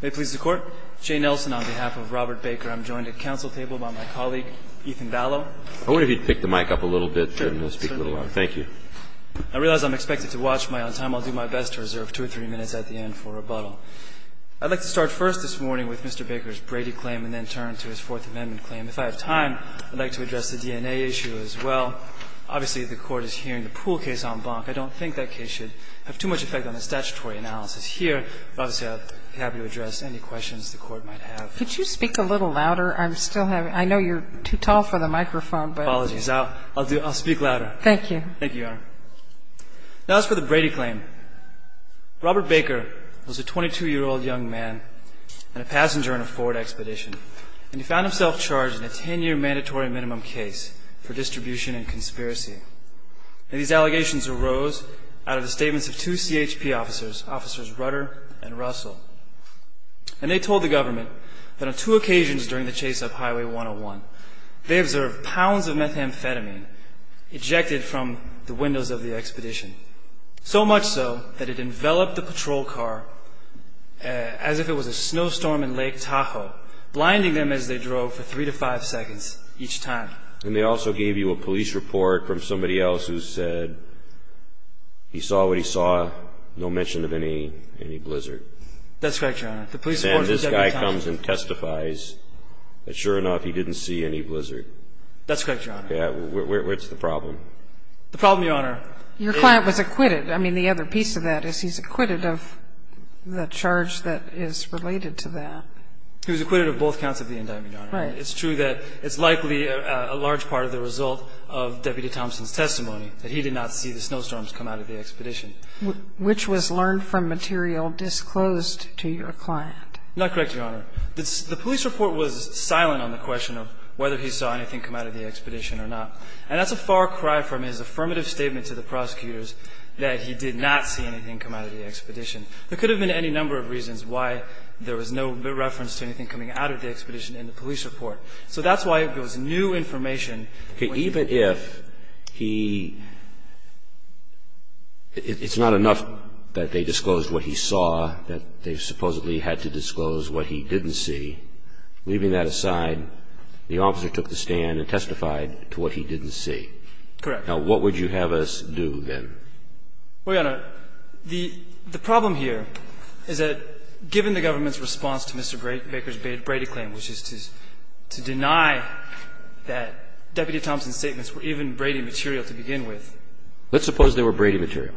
May it please the Court, Jay Nelson on behalf of Robert Baker. I'm joined at the Council table by my colleague, Ethan Vallow. I wonder if you'd pick the mic up a little bit. Thank you. I realize I'm expected to watch my own time. I'll do my best to reserve two or three minutes at the end for rebuttal. I'd like to start first this morning with Mr. Baker's Brady claim and then turn to his Fourth Amendment claim. If I have time, I'd like to address the DNA issue as well. Obviously, the Court is hearing the Pool case on Bonk. I don't think that case should have too much effect on the statutory analysis here. But obviously, I'd be happy to address any questions the Court might have. Could you speak a little louder? I know you're too tall for the microphone. Apologies. I'll speak louder. Thank you. Thank you, Your Honor. Now, as for the Brady claim, Robert Baker was a 22-year-old young man and a passenger in a Ford expedition. And he found himself charged in a 10-year mandatory minimum case for distribution and conspiracy. And these allegations arose out of the statements of two CHP officers, Officers Rudder and Russell. And they told the government that on two occasions during the chase up Highway 101, they observed pounds of methamphetamine ejected from the windows of the expedition, so much so that it enveloped the patrol car as if it was a snowstorm in Lake Tahoe, blinding them as they drove for three to five seconds each time. And they also gave you a police report from somebody else who said he saw what he saw, no mention of any blizzard. That's correct, Your Honor. And this guy comes and testifies that, sure enough, he didn't see any blizzard. That's correct, Your Honor. Where's the problem? The problem, Your Honor. Your client was acquitted. I mean, the other piece of that is he's acquitted of the charge that is related to that. He was acquitted of both counts of the indictment, Your Honor. Right. And it's true that it's likely a large part of the result of Deputy Thompson's testimony that he did not see the snowstorms come out of the expedition. Which was learned from material disclosed to your client. Not correct, Your Honor. The police report was silent on the question of whether he saw anything come out of the expedition or not. And that's a far cry from his affirmative statement to the prosecutors that he did not see anything come out of the expedition. There could have been any number of reasons why there was no reference to anything coming out of the expedition in the police report. So that's why it was new information. Okay. Even if he – it's not enough that they disclosed what he saw, that they supposedly had to disclose what he didn't see. Leaving that aside, the officer took the stand and testified to what he didn't see. Correct. Now, what would you have us do then? Well, Your Honor, the problem here is that given the government's response to Mr. Baker's Brady claim, which is to deny that Deputy Thompson's statements were even Brady material to begin with. Let's suppose they were Brady material.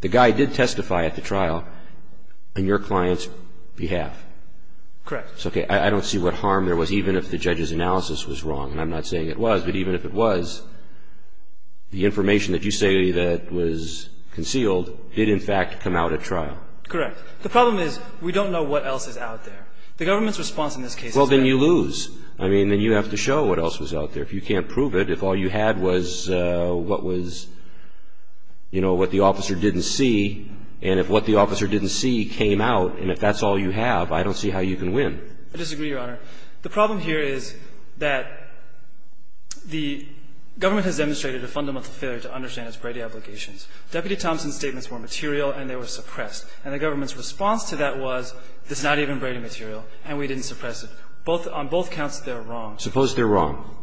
The guy did testify at the trial on your client's behalf. Correct. Okay. I don't see what harm there was, even if the judge's analysis was wrong. And I'm not saying it was. But even if it was, the information that you say that was concealed did, in fact, come out at trial. Correct. The problem is we don't know what else is out there. The government's response in this case is that – Well, then you lose. I mean, then you have to show what else was out there. If you can't prove it, if all you had was what was – you know, what the officer didn't see, and if what the officer didn't see came out, and if that's all you have, I don't see how you can win. I disagree, Your Honor. The problem here is that the government has demonstrated a fundamental failure to understand its Brady obligations. Deputy Thompson's statements were material, and they were suppressed. And the government's response to that was, this is not even Brady material, and we didn't suppress it. On both counts, they're wrong. Suppose they're wrong.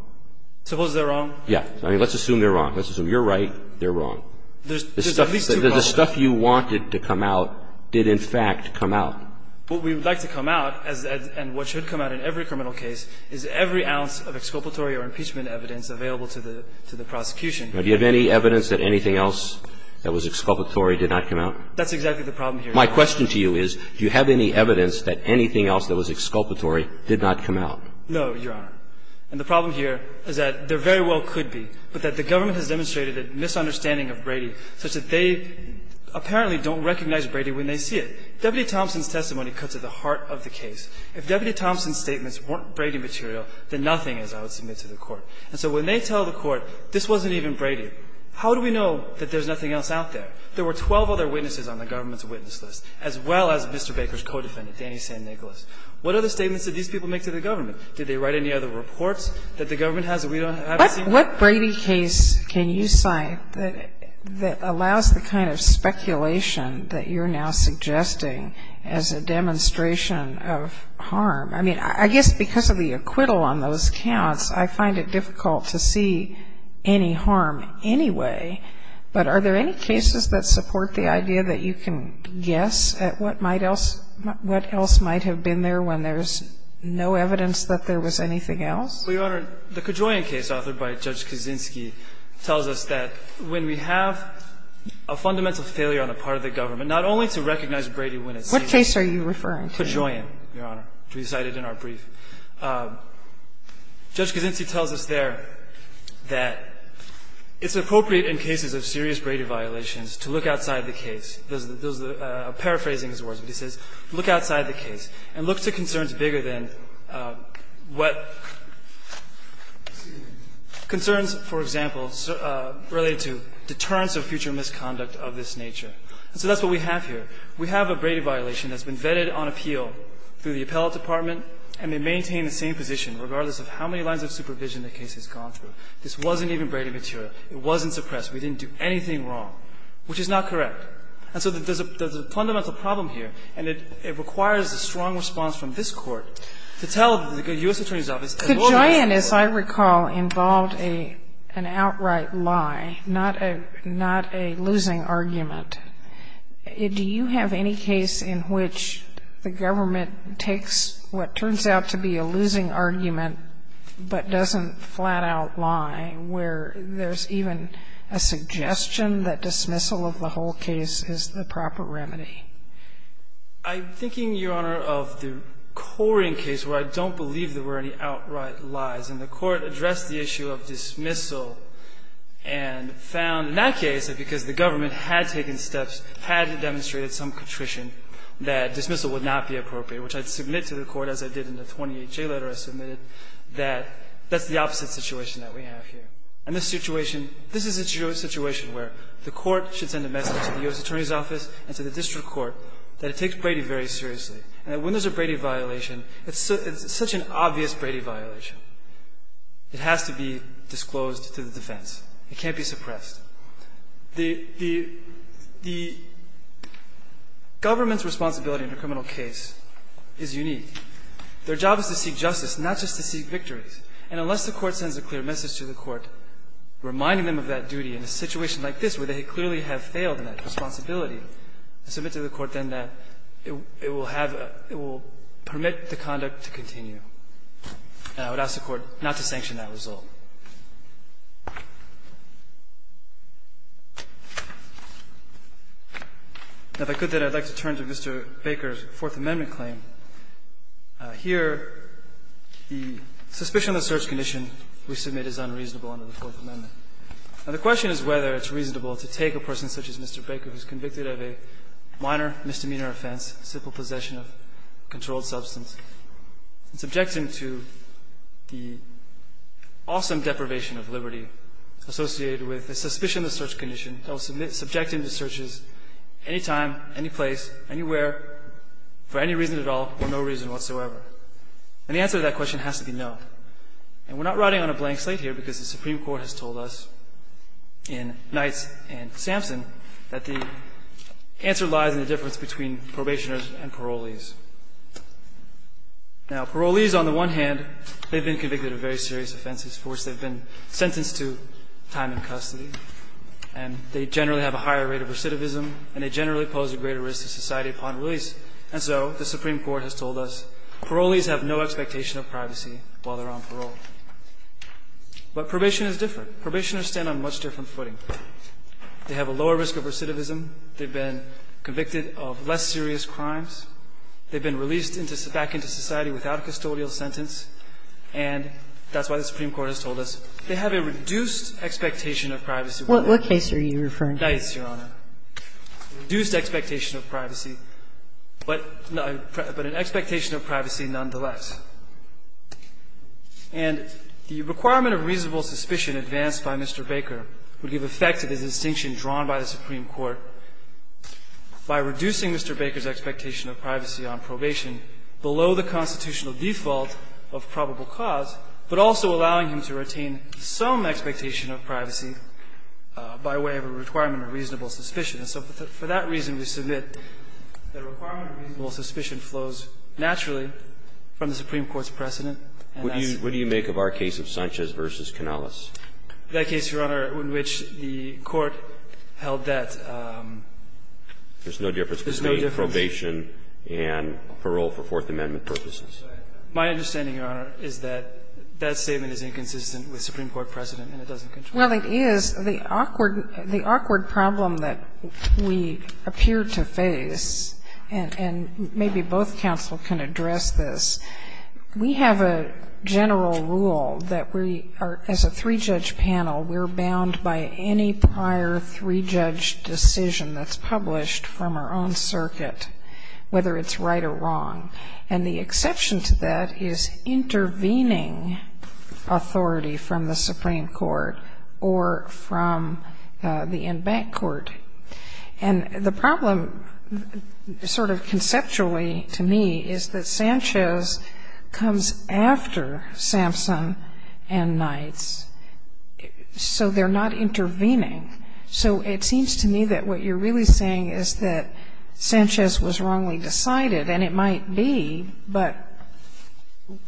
Suppose they're wrong? Yeah. I mean, let's assume they're wrong. Let's assume you're right, they're wrong. There's at least two problems. The stuff you wanted to come out did, in fact, come out. What we would like to come out, and what should come out in every criminal case, is every ounce of exculpatory or impeachment evidence available to the prosecution. Now, do you have any evidence that anything else that was exculpatory did not come out? That's exactly the problem here. My question to you is, do you have any evidence that anything else that was exculpatory did not come out? No, Your Honor. And the problem here is that there very well could be, but that the government has demonstrated a misunderstanding of Brady such that they apparently don't recognize Brady when they see it. Deputy Thompson's testimony cuts at the heart of the case. If Deputy Thompson's statements weren't Brady material, then nothing is, I would submit to the Court. And so when they tell the Court this wasn't even Brady, how do we know that there's nothing else out there? There were 12 other witnesses on the government's witness list, as well as Mr. Baker's co-defendant, Danny St. Nicholas. What other statements did these people make to the government? Did they write any other reports that the government has that we don't have? What Brady case can you cite that allows the kind of speculation that you're now suggesting as a demonstration of harm? I mean, I guess because of the acquittal on those counts, I find it difficult to see any harm anyway. But are there any cases that support the idea that you can guess at what might else ñ what else might have been there when there's no evidence that there was anything else? Well, Your Honor, the Cajoyan case authored by Judge Kaczynski tells us that when we have a fundamental failure on the part of the government, not only to recognize Brady when it seems to be ñ What case are you referring to? Cajoyan, Your Honor, which we cited in our brief. Judge Kaczynski tells us there that it's appropriate in cases of serious Brady violations to look outside the case. Those are paraphrasing his words, but he says, look outside the case and look to concerns that are bigger than what ñ concerns, for example, related to deterrence of future misconduct of this nature. And so that's what we have here. We have a Brady violation that's been vetted on appeal through the appellate department, and they maintain the same position regardless of how many lines of supervision the case has gone through. This wasn't even Brady material. It wasn't suppressed. We didn't do anything wrong, which is not correct. And so there's a fundamental problem here, and it requires a strong response from this Court to tell the U.S. Attorney's Office ñ Kagan, as I recall, involved an outright lie, not a ñ not a losing argument. Do you have any case in which the government takes what turns out to be a losing argument but doesn't flat-out lie, where there's even a suggestion that dismissal of the whole case is the proper remedy? I'm thinking, Your Honor, of the Corian case where I don't believe there were any outright lies. And the Court addressed the issue of dismissal and found in that case that because the government had taken steps, had demonstrated some contrition, that dismissal would not be appropriate, which I'd submit to the Court, as I did in the 28-J letter I submitted, that that's the opposite situation that we have here. And the situation ñ this is a situation where the Court should send a message to the U.S. Attorney's Office and to the district court that it takes Brady very seriously and that when there's a Brady violation, it's such an obvious Brady violation, it has to be disclosed to the defense. It can't be suppressed. The government's responsibility in a criminal case is unique. Their job is to seek justice, not just to seek victories. And unless the Court sends a clear message to the Court reminding them of that duty in a situation like this where they clearly have failed in that responsibility, I submit to the Court then that it will have a ñ it will permit the conduct to continue. And I would ask the Court not to sanction that result. Now, if I could, then, I'd like to turn to Mr. Baker's Fourth Amendment claim. Here, the suspicion of the search condition we submit is unreasonable under the Fourth Amendment. Now, the question is whether it's reasonable to take a person such as Mr. Baker who's convicted of a minor misdemeanor offense, simple possession of a controlled substance, and subject him to the awesome deprivation of liberty associated with the suspicion of the search condition, subject him to searches anytime, anyplace, anywhere, for any reason at all or no reason whatsoever. And the answer to that question has to be no. And we're not riding on a blank slate here because the Supreme Court has told us in Knights and Sampson that the answer lies in the difference between probationers and parolees. Now, parolees, on the one hand, they've been convicted of very serious offenses. First, they've been sentenced to time in custody, and they generally have a higher rate of recidivism, and they generally pose a greater risk to society upon release. And so the Supreme Court has told us parolees have no expectation of privacy while they're on parole. But probation is different. Probationers stand on a much different footing. They have a lower risk of recidivism. They've been convicted of less serious crimes. They've been released back into society without a custodial sentence. And that's why the Supreme Court has told us they have a reduced expectation of privacy. Kagan, what case are you referring to? Knights, Your Honor. Reduced expectation of privacy, but an expectation of privacy nonetheless. And the requirement of reasonable suspicion advanced by Mr. Baker would give effect to this distinction drawn by the Supreme Court by reducing Mr. Baker's expectation of privacy on probation below the constitutional default of probable cause, but also allowing him to retain some expectation of privacy by way of a requirement of reasonable suspicion. So for that reason, we submit that a requirement of reasonable suspicion flows naturally from the Supreme Court's precedent. And that's the case. What do you make of our case of Sanchez v. Canales? That case, Your Honor, in which the Court held that there's no difference between probation and parole for Fourth Amendment purposes. My understanding, Your Honor, is that that statement is inconsistent with Supreme Court precedent, and it doesn't control it. Well, it is. The awkward problem that we appear to face, and maybe both counsel can address this, we have a general rule that we are, as a three-judge panel, we're bound by any prior three-judge decision that's published from our own circuit, whether it's right or wrong. And the exception to that is intervening authority from the Supreme Court or from the en banc court. And the problem sort of conceptually, to me, is that Sanchez comes after Sampson and Knights, so they're not intervening. So it seems to me that what you're really saying is that Sanchez was wrongly decided, and it might be, but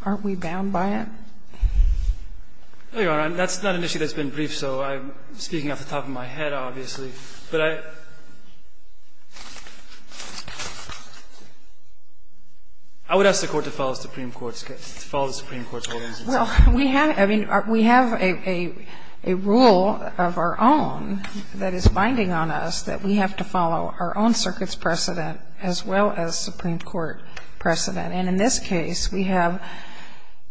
aren't we bound by it? No, Your Honor. That's not an issue that's been briefed, so I'm speaking off the top of my head, obviously. But I would ask the Court to follow the Supreme Court's holdings. Well, we have a rule of our own that is binding on us that we have to follow our own And in this case, we have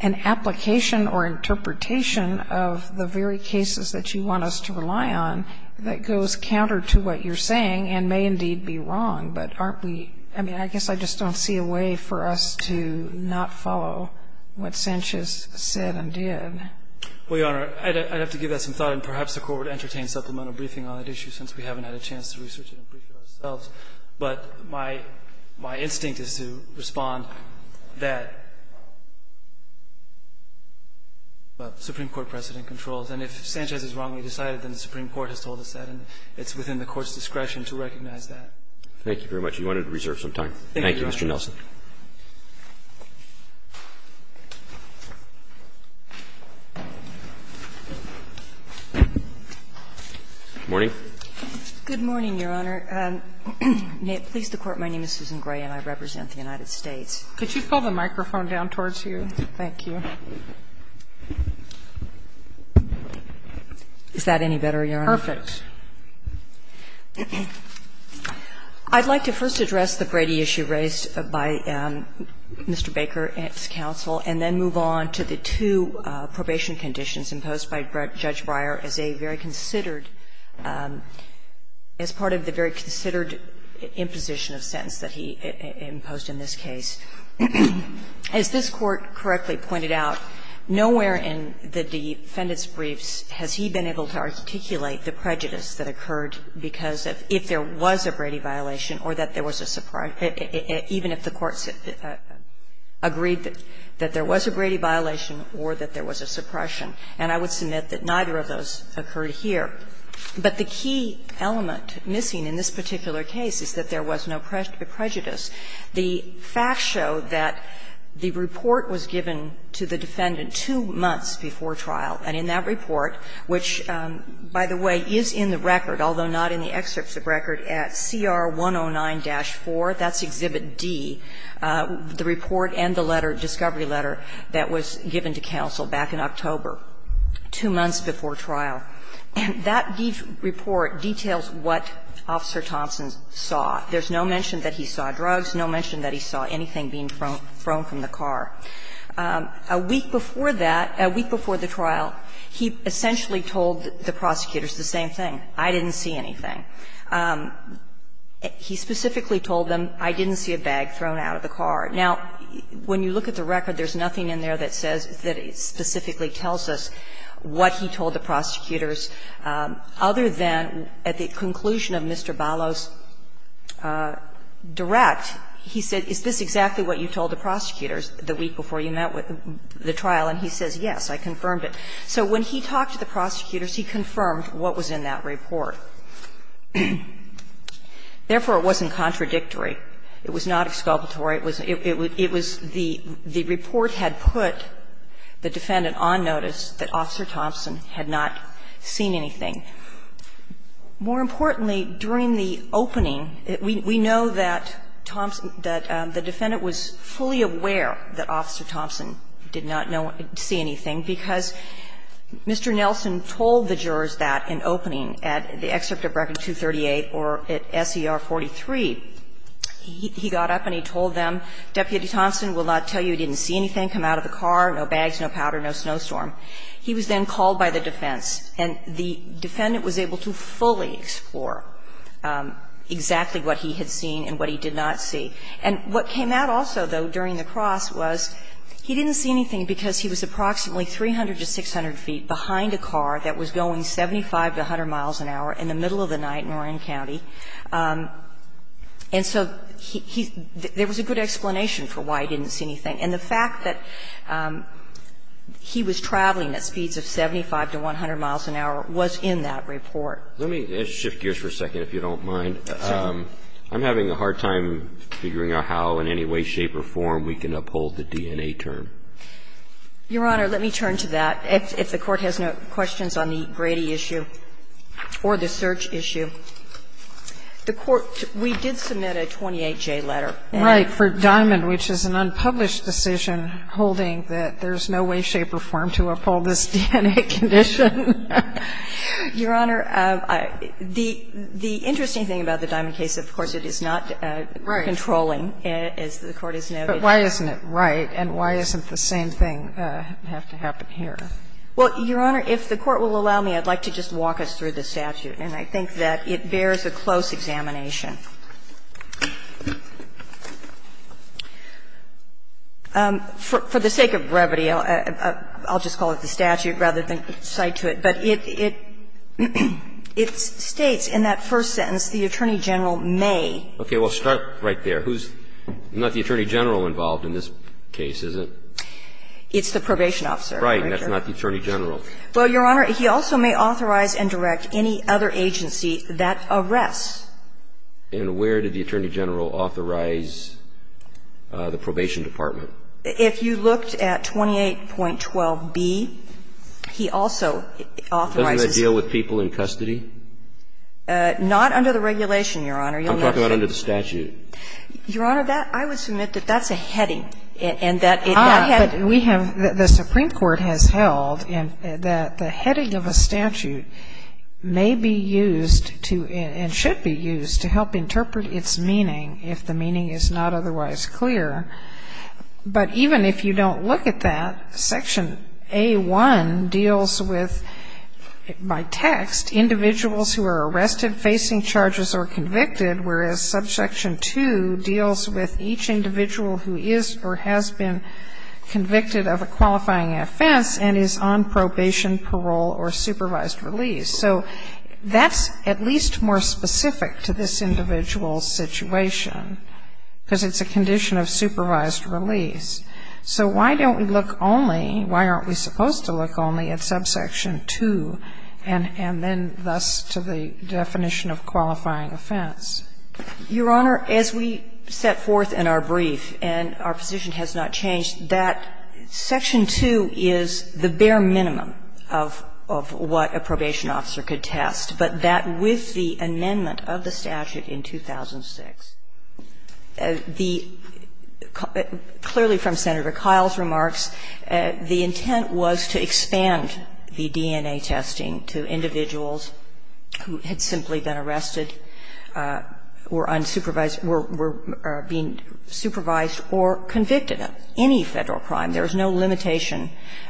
an application or interpretation of the very cases that you want us to rely on that goes counter to what you're saying and may indeed be wrong. But aren't we – I mean, I guess I just don't see a way for us to not follow what Sanchez said and did. Well, Your Honor, I'd have to give that some thought, and perhaps the Court would But my instinct is to respond that what the Supreme Court precedent controls. And if Sanchez is wrongly decided, then the Supreme Court has told us that. And it's within the Court's discretion to recognize that. Thank you very much. We wanted to reserve some time. Thank you, Mr. Nelson. Good morning. Good morning, Your Honor. May it please the Court, my name is Susan Gray and I represent the United States. Could you pull the microphone down towards you? Thank you. Is that any better, Your Honor? Perfect. I'd like to first address the Brady issue raised by Mr. Baker and his counsel, and then move on to the two probation conditions imposed by Judge Breyer as a very considered imposition of sentence that he imposed in this case. As this Court correctly pointed out, nowhere in the defendant's briefs has he been able to articulate the prejudice that occurred because of if there was a Brady violation or that there was a suppression, even if the Court agreed that there was a Brady violation or that there was a suppression. And I would submit that neither of those occurred here. But the key element missing in this particular case is that there was no prejudice. The facts show that the report was given to the defendant two months before trial, and in that report, which, by the way, is in the record, although not in the excerpts of record, at CR 109-4, that's Exhibit D, the report and the letter, discovery letter that was given to counsel back in October, two months before trial. And that report details what Officer Thompson saw. There's no mention that he saw drugs, no mention that he saw anything being thrown from the car. A week before that, a week before the trial, he essentially told the prosecutors the same thing, I didn't see anything. He specifically told them, I didn't see a bag thrown out of the car. Now, when you look at the record, there's nothing in there that says that it specifically tells us what he told the prosecutors, other than at the conclusion of Mr. Balos' direct, he said, is this exactly what you told the prosecutors the week before you met with the trial? And he says, yes, I confirmed it. So when he talked to the prosecutors, he confirmed what was in that report. Therefore, it wasn't contradictory. It was not exculpatory. It was the report had put the defendant on notice that Officer Thompson had not seen anything. More importantly, during the opening, we know that Thompson, that the defendant was fully aware that Officer Thompson did not know, see anything, because Mr. Nelson told the jurors that in opening at the excerpt of record 238 or at SER 43, he got up and he told them, Deputy Thompson will not tell you he didn't see anything come out of the car, no bags, no powder, no snowstorm. He was then called by the defense. And the defendant was able to fully explore exactly what he had seen and what he did not see. And what came out also, though, during the cross was he didn't see anything because he was approximately 300 to 600 feet behind a car that was going 75 to 100 miles an hour in the middle of the night in Orion County. And so he he there was a good explanation for why he didn't see anything. And the fact that he was traveling at speeds of 75 to 100 miles an hour was in that report. Let me shift gears for a second, if you don't mind. I'm having a hard time figuring out how in any way, shape or form we can uphold the DNA term. Your Honor, let me turn to that. If the Court has no questions on the Brady issue or the search issue. The Court, we did submit a 28-J letter. Right, for Diamond, which is an unpublished decision holding that there's no way, shape or form to uphold this DNA condition. Your Honor, the interesting thing about the Diamond case, of course, it is not controlling, as the Court has noted. But why isn't it right and why isn't the same thing have to happen here? Well, Your Honor, if the Court will allow me, I'd like to just walk us through the statute. And I think that it bears a close examination. For the sake of brevity, I'll just call it the statute rather than cite to it. But it states in that first sentence, the Attorney General may. Okay. Well, start right there. Who's not the Attorney General involved in this case, is it? It's the probation officer. Right. And that's not the Attorney General. Well, Your Honor, he also may authorize and direct any other agency that arrests. And where did the Attorney General authorize the probation department? If you looked at 28.12b, he also authorizes. Doesn't it deal with people in custody? Not under the regulation, Your Honor. I'm talking about under the statute. Your Honor, that – I would submit that that's a heading and that it's not heading. But we have – the Supreme Court has held that the heading of a statute may be used to – and should be used to help interpret its meaning if the meaning is not otherwise clear. But even if you don't look at that, Section A.1 deals with, by text, individuals who are arrested, facing charges, or convicted, whereas Subsection 2 deals with each individual who is or has been convicted of a qualifying offense and is on probation, parole, or supervised release. So that's at least more specific to this individual's situation, because it's a condition of supervised release. So why don't we look only – why aren't we supposed to look only at Subsection 2 and then thus to the definition of qualifying offense? Your Honor, as we set forth in our brief, and our position has not changed, that Section 2 is the bare minimum of what a probation officer could test. But that with the amendment of the statute in 2006, the – clearly from Senator Kyle's remarks, the intent was to expand the DNA testing to individuals who had simply been arrested, were unsupervised – were being supervised or convicted of any Federal crime. There is no limitation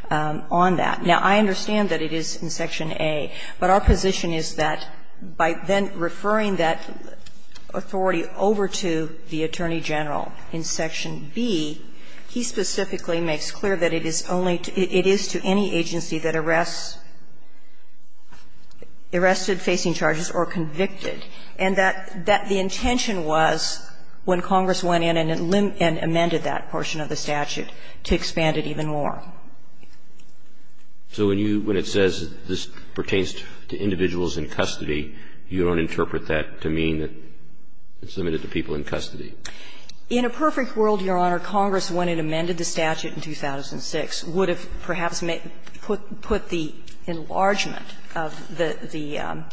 on that. Now, I understand that it is in Section A, but our position is that by then referring that authority over to the Attorney General in Section B, he specifically makes clear that it is only – it is to any agency that arrests – arrested, facing charges, or convicted, and that the intention was, when Congress went in and amended that portion of the statute, to expand it even more. So when you – when it says this pertains to individuals in custody, you don't interpret that to mean that it's limited to people in custody? In a perfect world, Your Honor, Congress, when it amended the statute in 2006, would have perhaps put the enlargement of the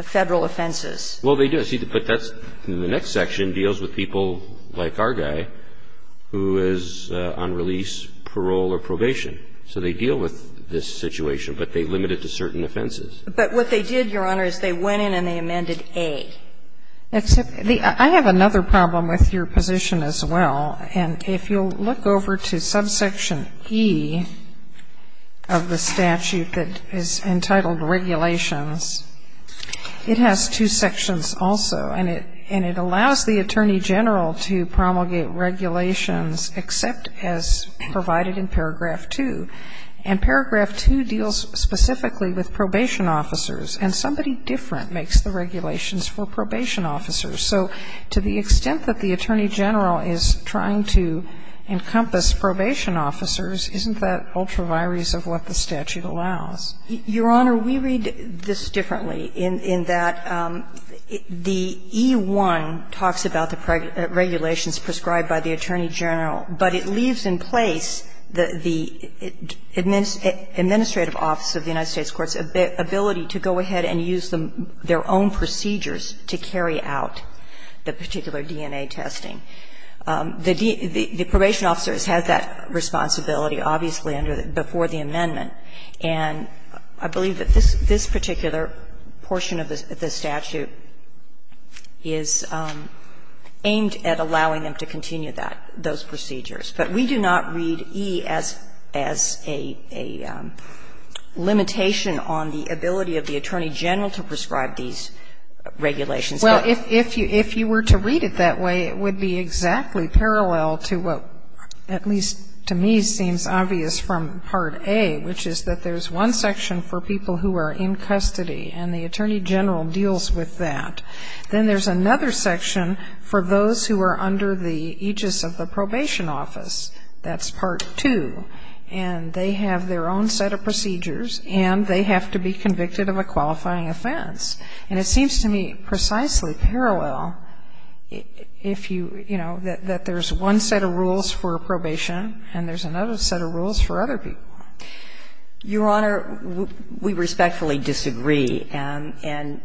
Federal offenses. Well, they do. See, but that's – the next section deals with people like our guy, who is on release, parole, or probation. So they deal with this situation, but they limit it to certain offenses. But what they did, Your Honor, is they went in and they amended A. Except the – I have another problem with your position as well. And if you'll look over to subsection E of the statute that is entitled Regulations, it has two sections also, and it – and it allows the Attorney General to promulgate regulations except as provided in paragraph 2. And paragraph 2 deals specifically with probation officers, and somebody different makes the regulations for probation officers. So to the extent that the Attorney General is trying to encompass probation officers, isn't that ultra vires of what the statute allows? Your Honor, we read this differently, in that the E1 talks about the pregnancy regulations prescribed by the Attorney General, but it leaves in place the administrative office of the United States courts' ability to go ahead and use their own procedures to carry out the particular DNA testing. The probation officers have that responsibility, obviously, before the amendment. And I believe that this particular portion of the statute is aimed at allowing them to continue that – those procedures. But we do not read E as a limitation on the ability of the Attorney General to prescribe these regulations. Well, if you were to read it that way, it would be exactly parallel to what, at least to me, seems obvious from Part A, which is that there's one section for people who are in custody, and the Attorney General deals with that. Then there's another section for those who are under the aegis of the probation office. That's Part 2. And they have their own set of procedures, and they have to be convicted of a qualifying offense. And it seems to me precisely parallel if you – you know, that there's one set of rules for probation, and there's another set of rules for other people. Your Honor, we respectfully disagree. And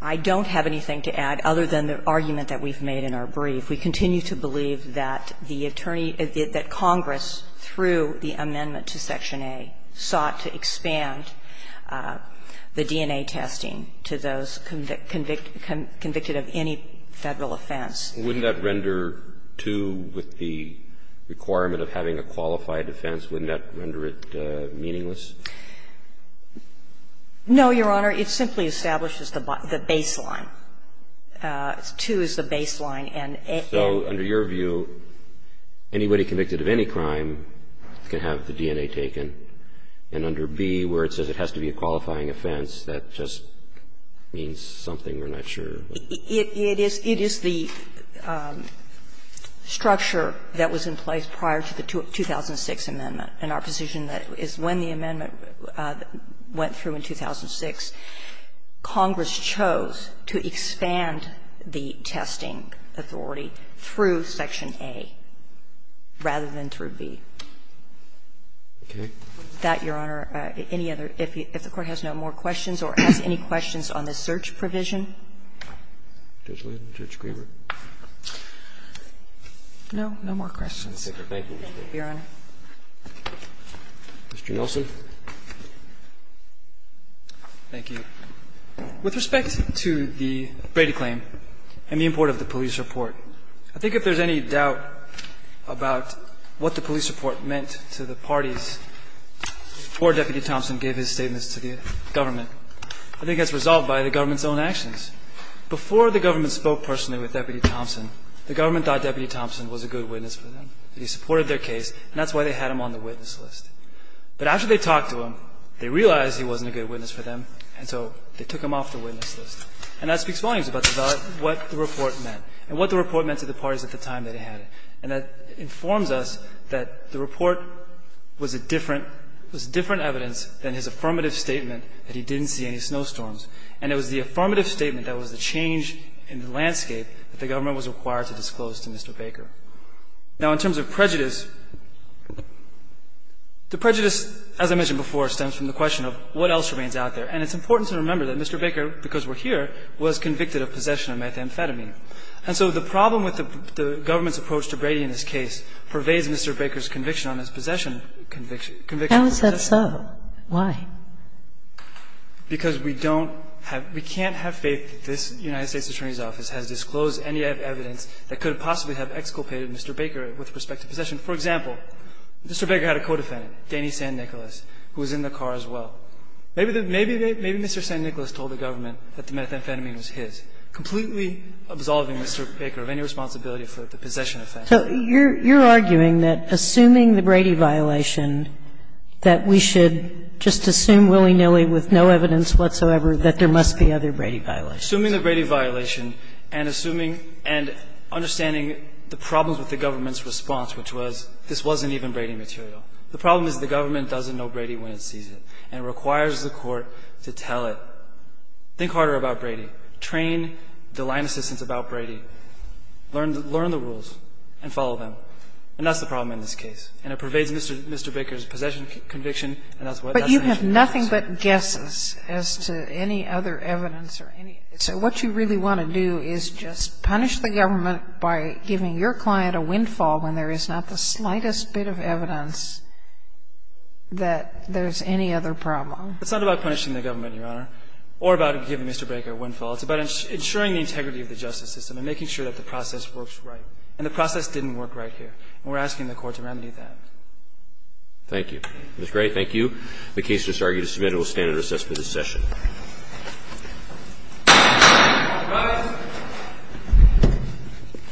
I don't have anything to add other than the argument that we've made in our brief. We continue to believe that the Attorney – that Congress, through the amendment to Section A, sought to expand the DNA testing to those convicted of any Federal offense. Wouldn't that render 2 with the requirement of having a qualified offense? Wouldn't that render it meaningless? No, Your Honor. It simply establishes the baseline. 2 is the baseline, and A – So under your view, anybody convicted of any crime can have the DNA taken, and under B, where it says it has to be a qualifying offense, that just means something we're not sure. It is the structure that was in place prior to the 2006 amendment. And our position is when the amendment went through in 2006, Congress chose to expand the testing authority through Section A rather than through B. Okay. That, Your Honor, any other – if the Court has no more questions or has any questions on this search provision? Judge Linden, Judge Griever. No, no more questions. Thank you, Your Honor. Mr. Nelson. Thank you. With respect to the Brady claim and the import of the police report, I think if there's any doubt about what the police report meant to the parties, poor Deputy Thompson gave his statements to the government. I think that's resolved by the government's own actions. Before the government spoke personally with Deputy Thompson, the government thought Deputy Thompson was a good witness for them, that he supported their case, and that's why they had him on the witness list. But after they talked to him, they realized he wasn't a good witness for them, and so they took him off the witness list. And that speaks volumes about what the report meant and what the report meant to the parties at the time that he had it. And that informs us that the report was a different – was different evidence than his affirmative statement that he didn't see any snowstorms. And it was the affirmative statement that was the change in the landscape that the government was required to disclose to Mr. Baker. Now, in terms of prejudice, the prejudice, as I mentioned before, stems from the question of what else remains out there. And it's important to remember that Mr. Baker, because we're here, was convicted of possession of methamphetamine. And so the problem with the government's approach to Brady in this case pervades Mr. Baker's conviction on his possession – conviction for possession. And so why? Because we don't have – we can't have faith that this United States Attorney's Office has disclosed any evidence that could possibly have exculpated Mr. Baker with respect to possession. For example, Mr. Baker had a co-defendant, Danny Sandnicholas, who was in the car as well. Maybe Mr. Sandnicholas told the government that the methamphetamine was his, completely absolving Mr. Baker of any responsibility for the possession offense. So you're arguing that, assuming the Brady violation, that we should just assume willy-nilly with no evidence whatsoever that there must be other Brady violations? Assuming the Brady violation and assuming – and understanding the problems with the government's response, which was this wasn't even Brady material. The problem is the government doesn't know Brady when it sees it, and it requires the Court to tell it, think harder about Brady, train the line assistants about Brady, learn the rules. And follow them. And that's the problem in this case. And it pervades Mr. Baker's possession conviction, and that's what that's going to be. Kagan. But you have nothing but guesses as to any other evidence or any other evidence. So what you really want to do is just punish the government by giving your client a windfall when there is not the slightest bit of evidence that there's any other problem. It's not about punishing the government, Your Honor, or about giving Mr. Baker a windfall. It's about ensuring the integrity of the justice system and making sure that the process works right. And the process didn't work right here, and we're asking the Court to remedy that. Thank you. Ms. Gray, thank you. The case is argued and submitted. We'll stand at recess for this session.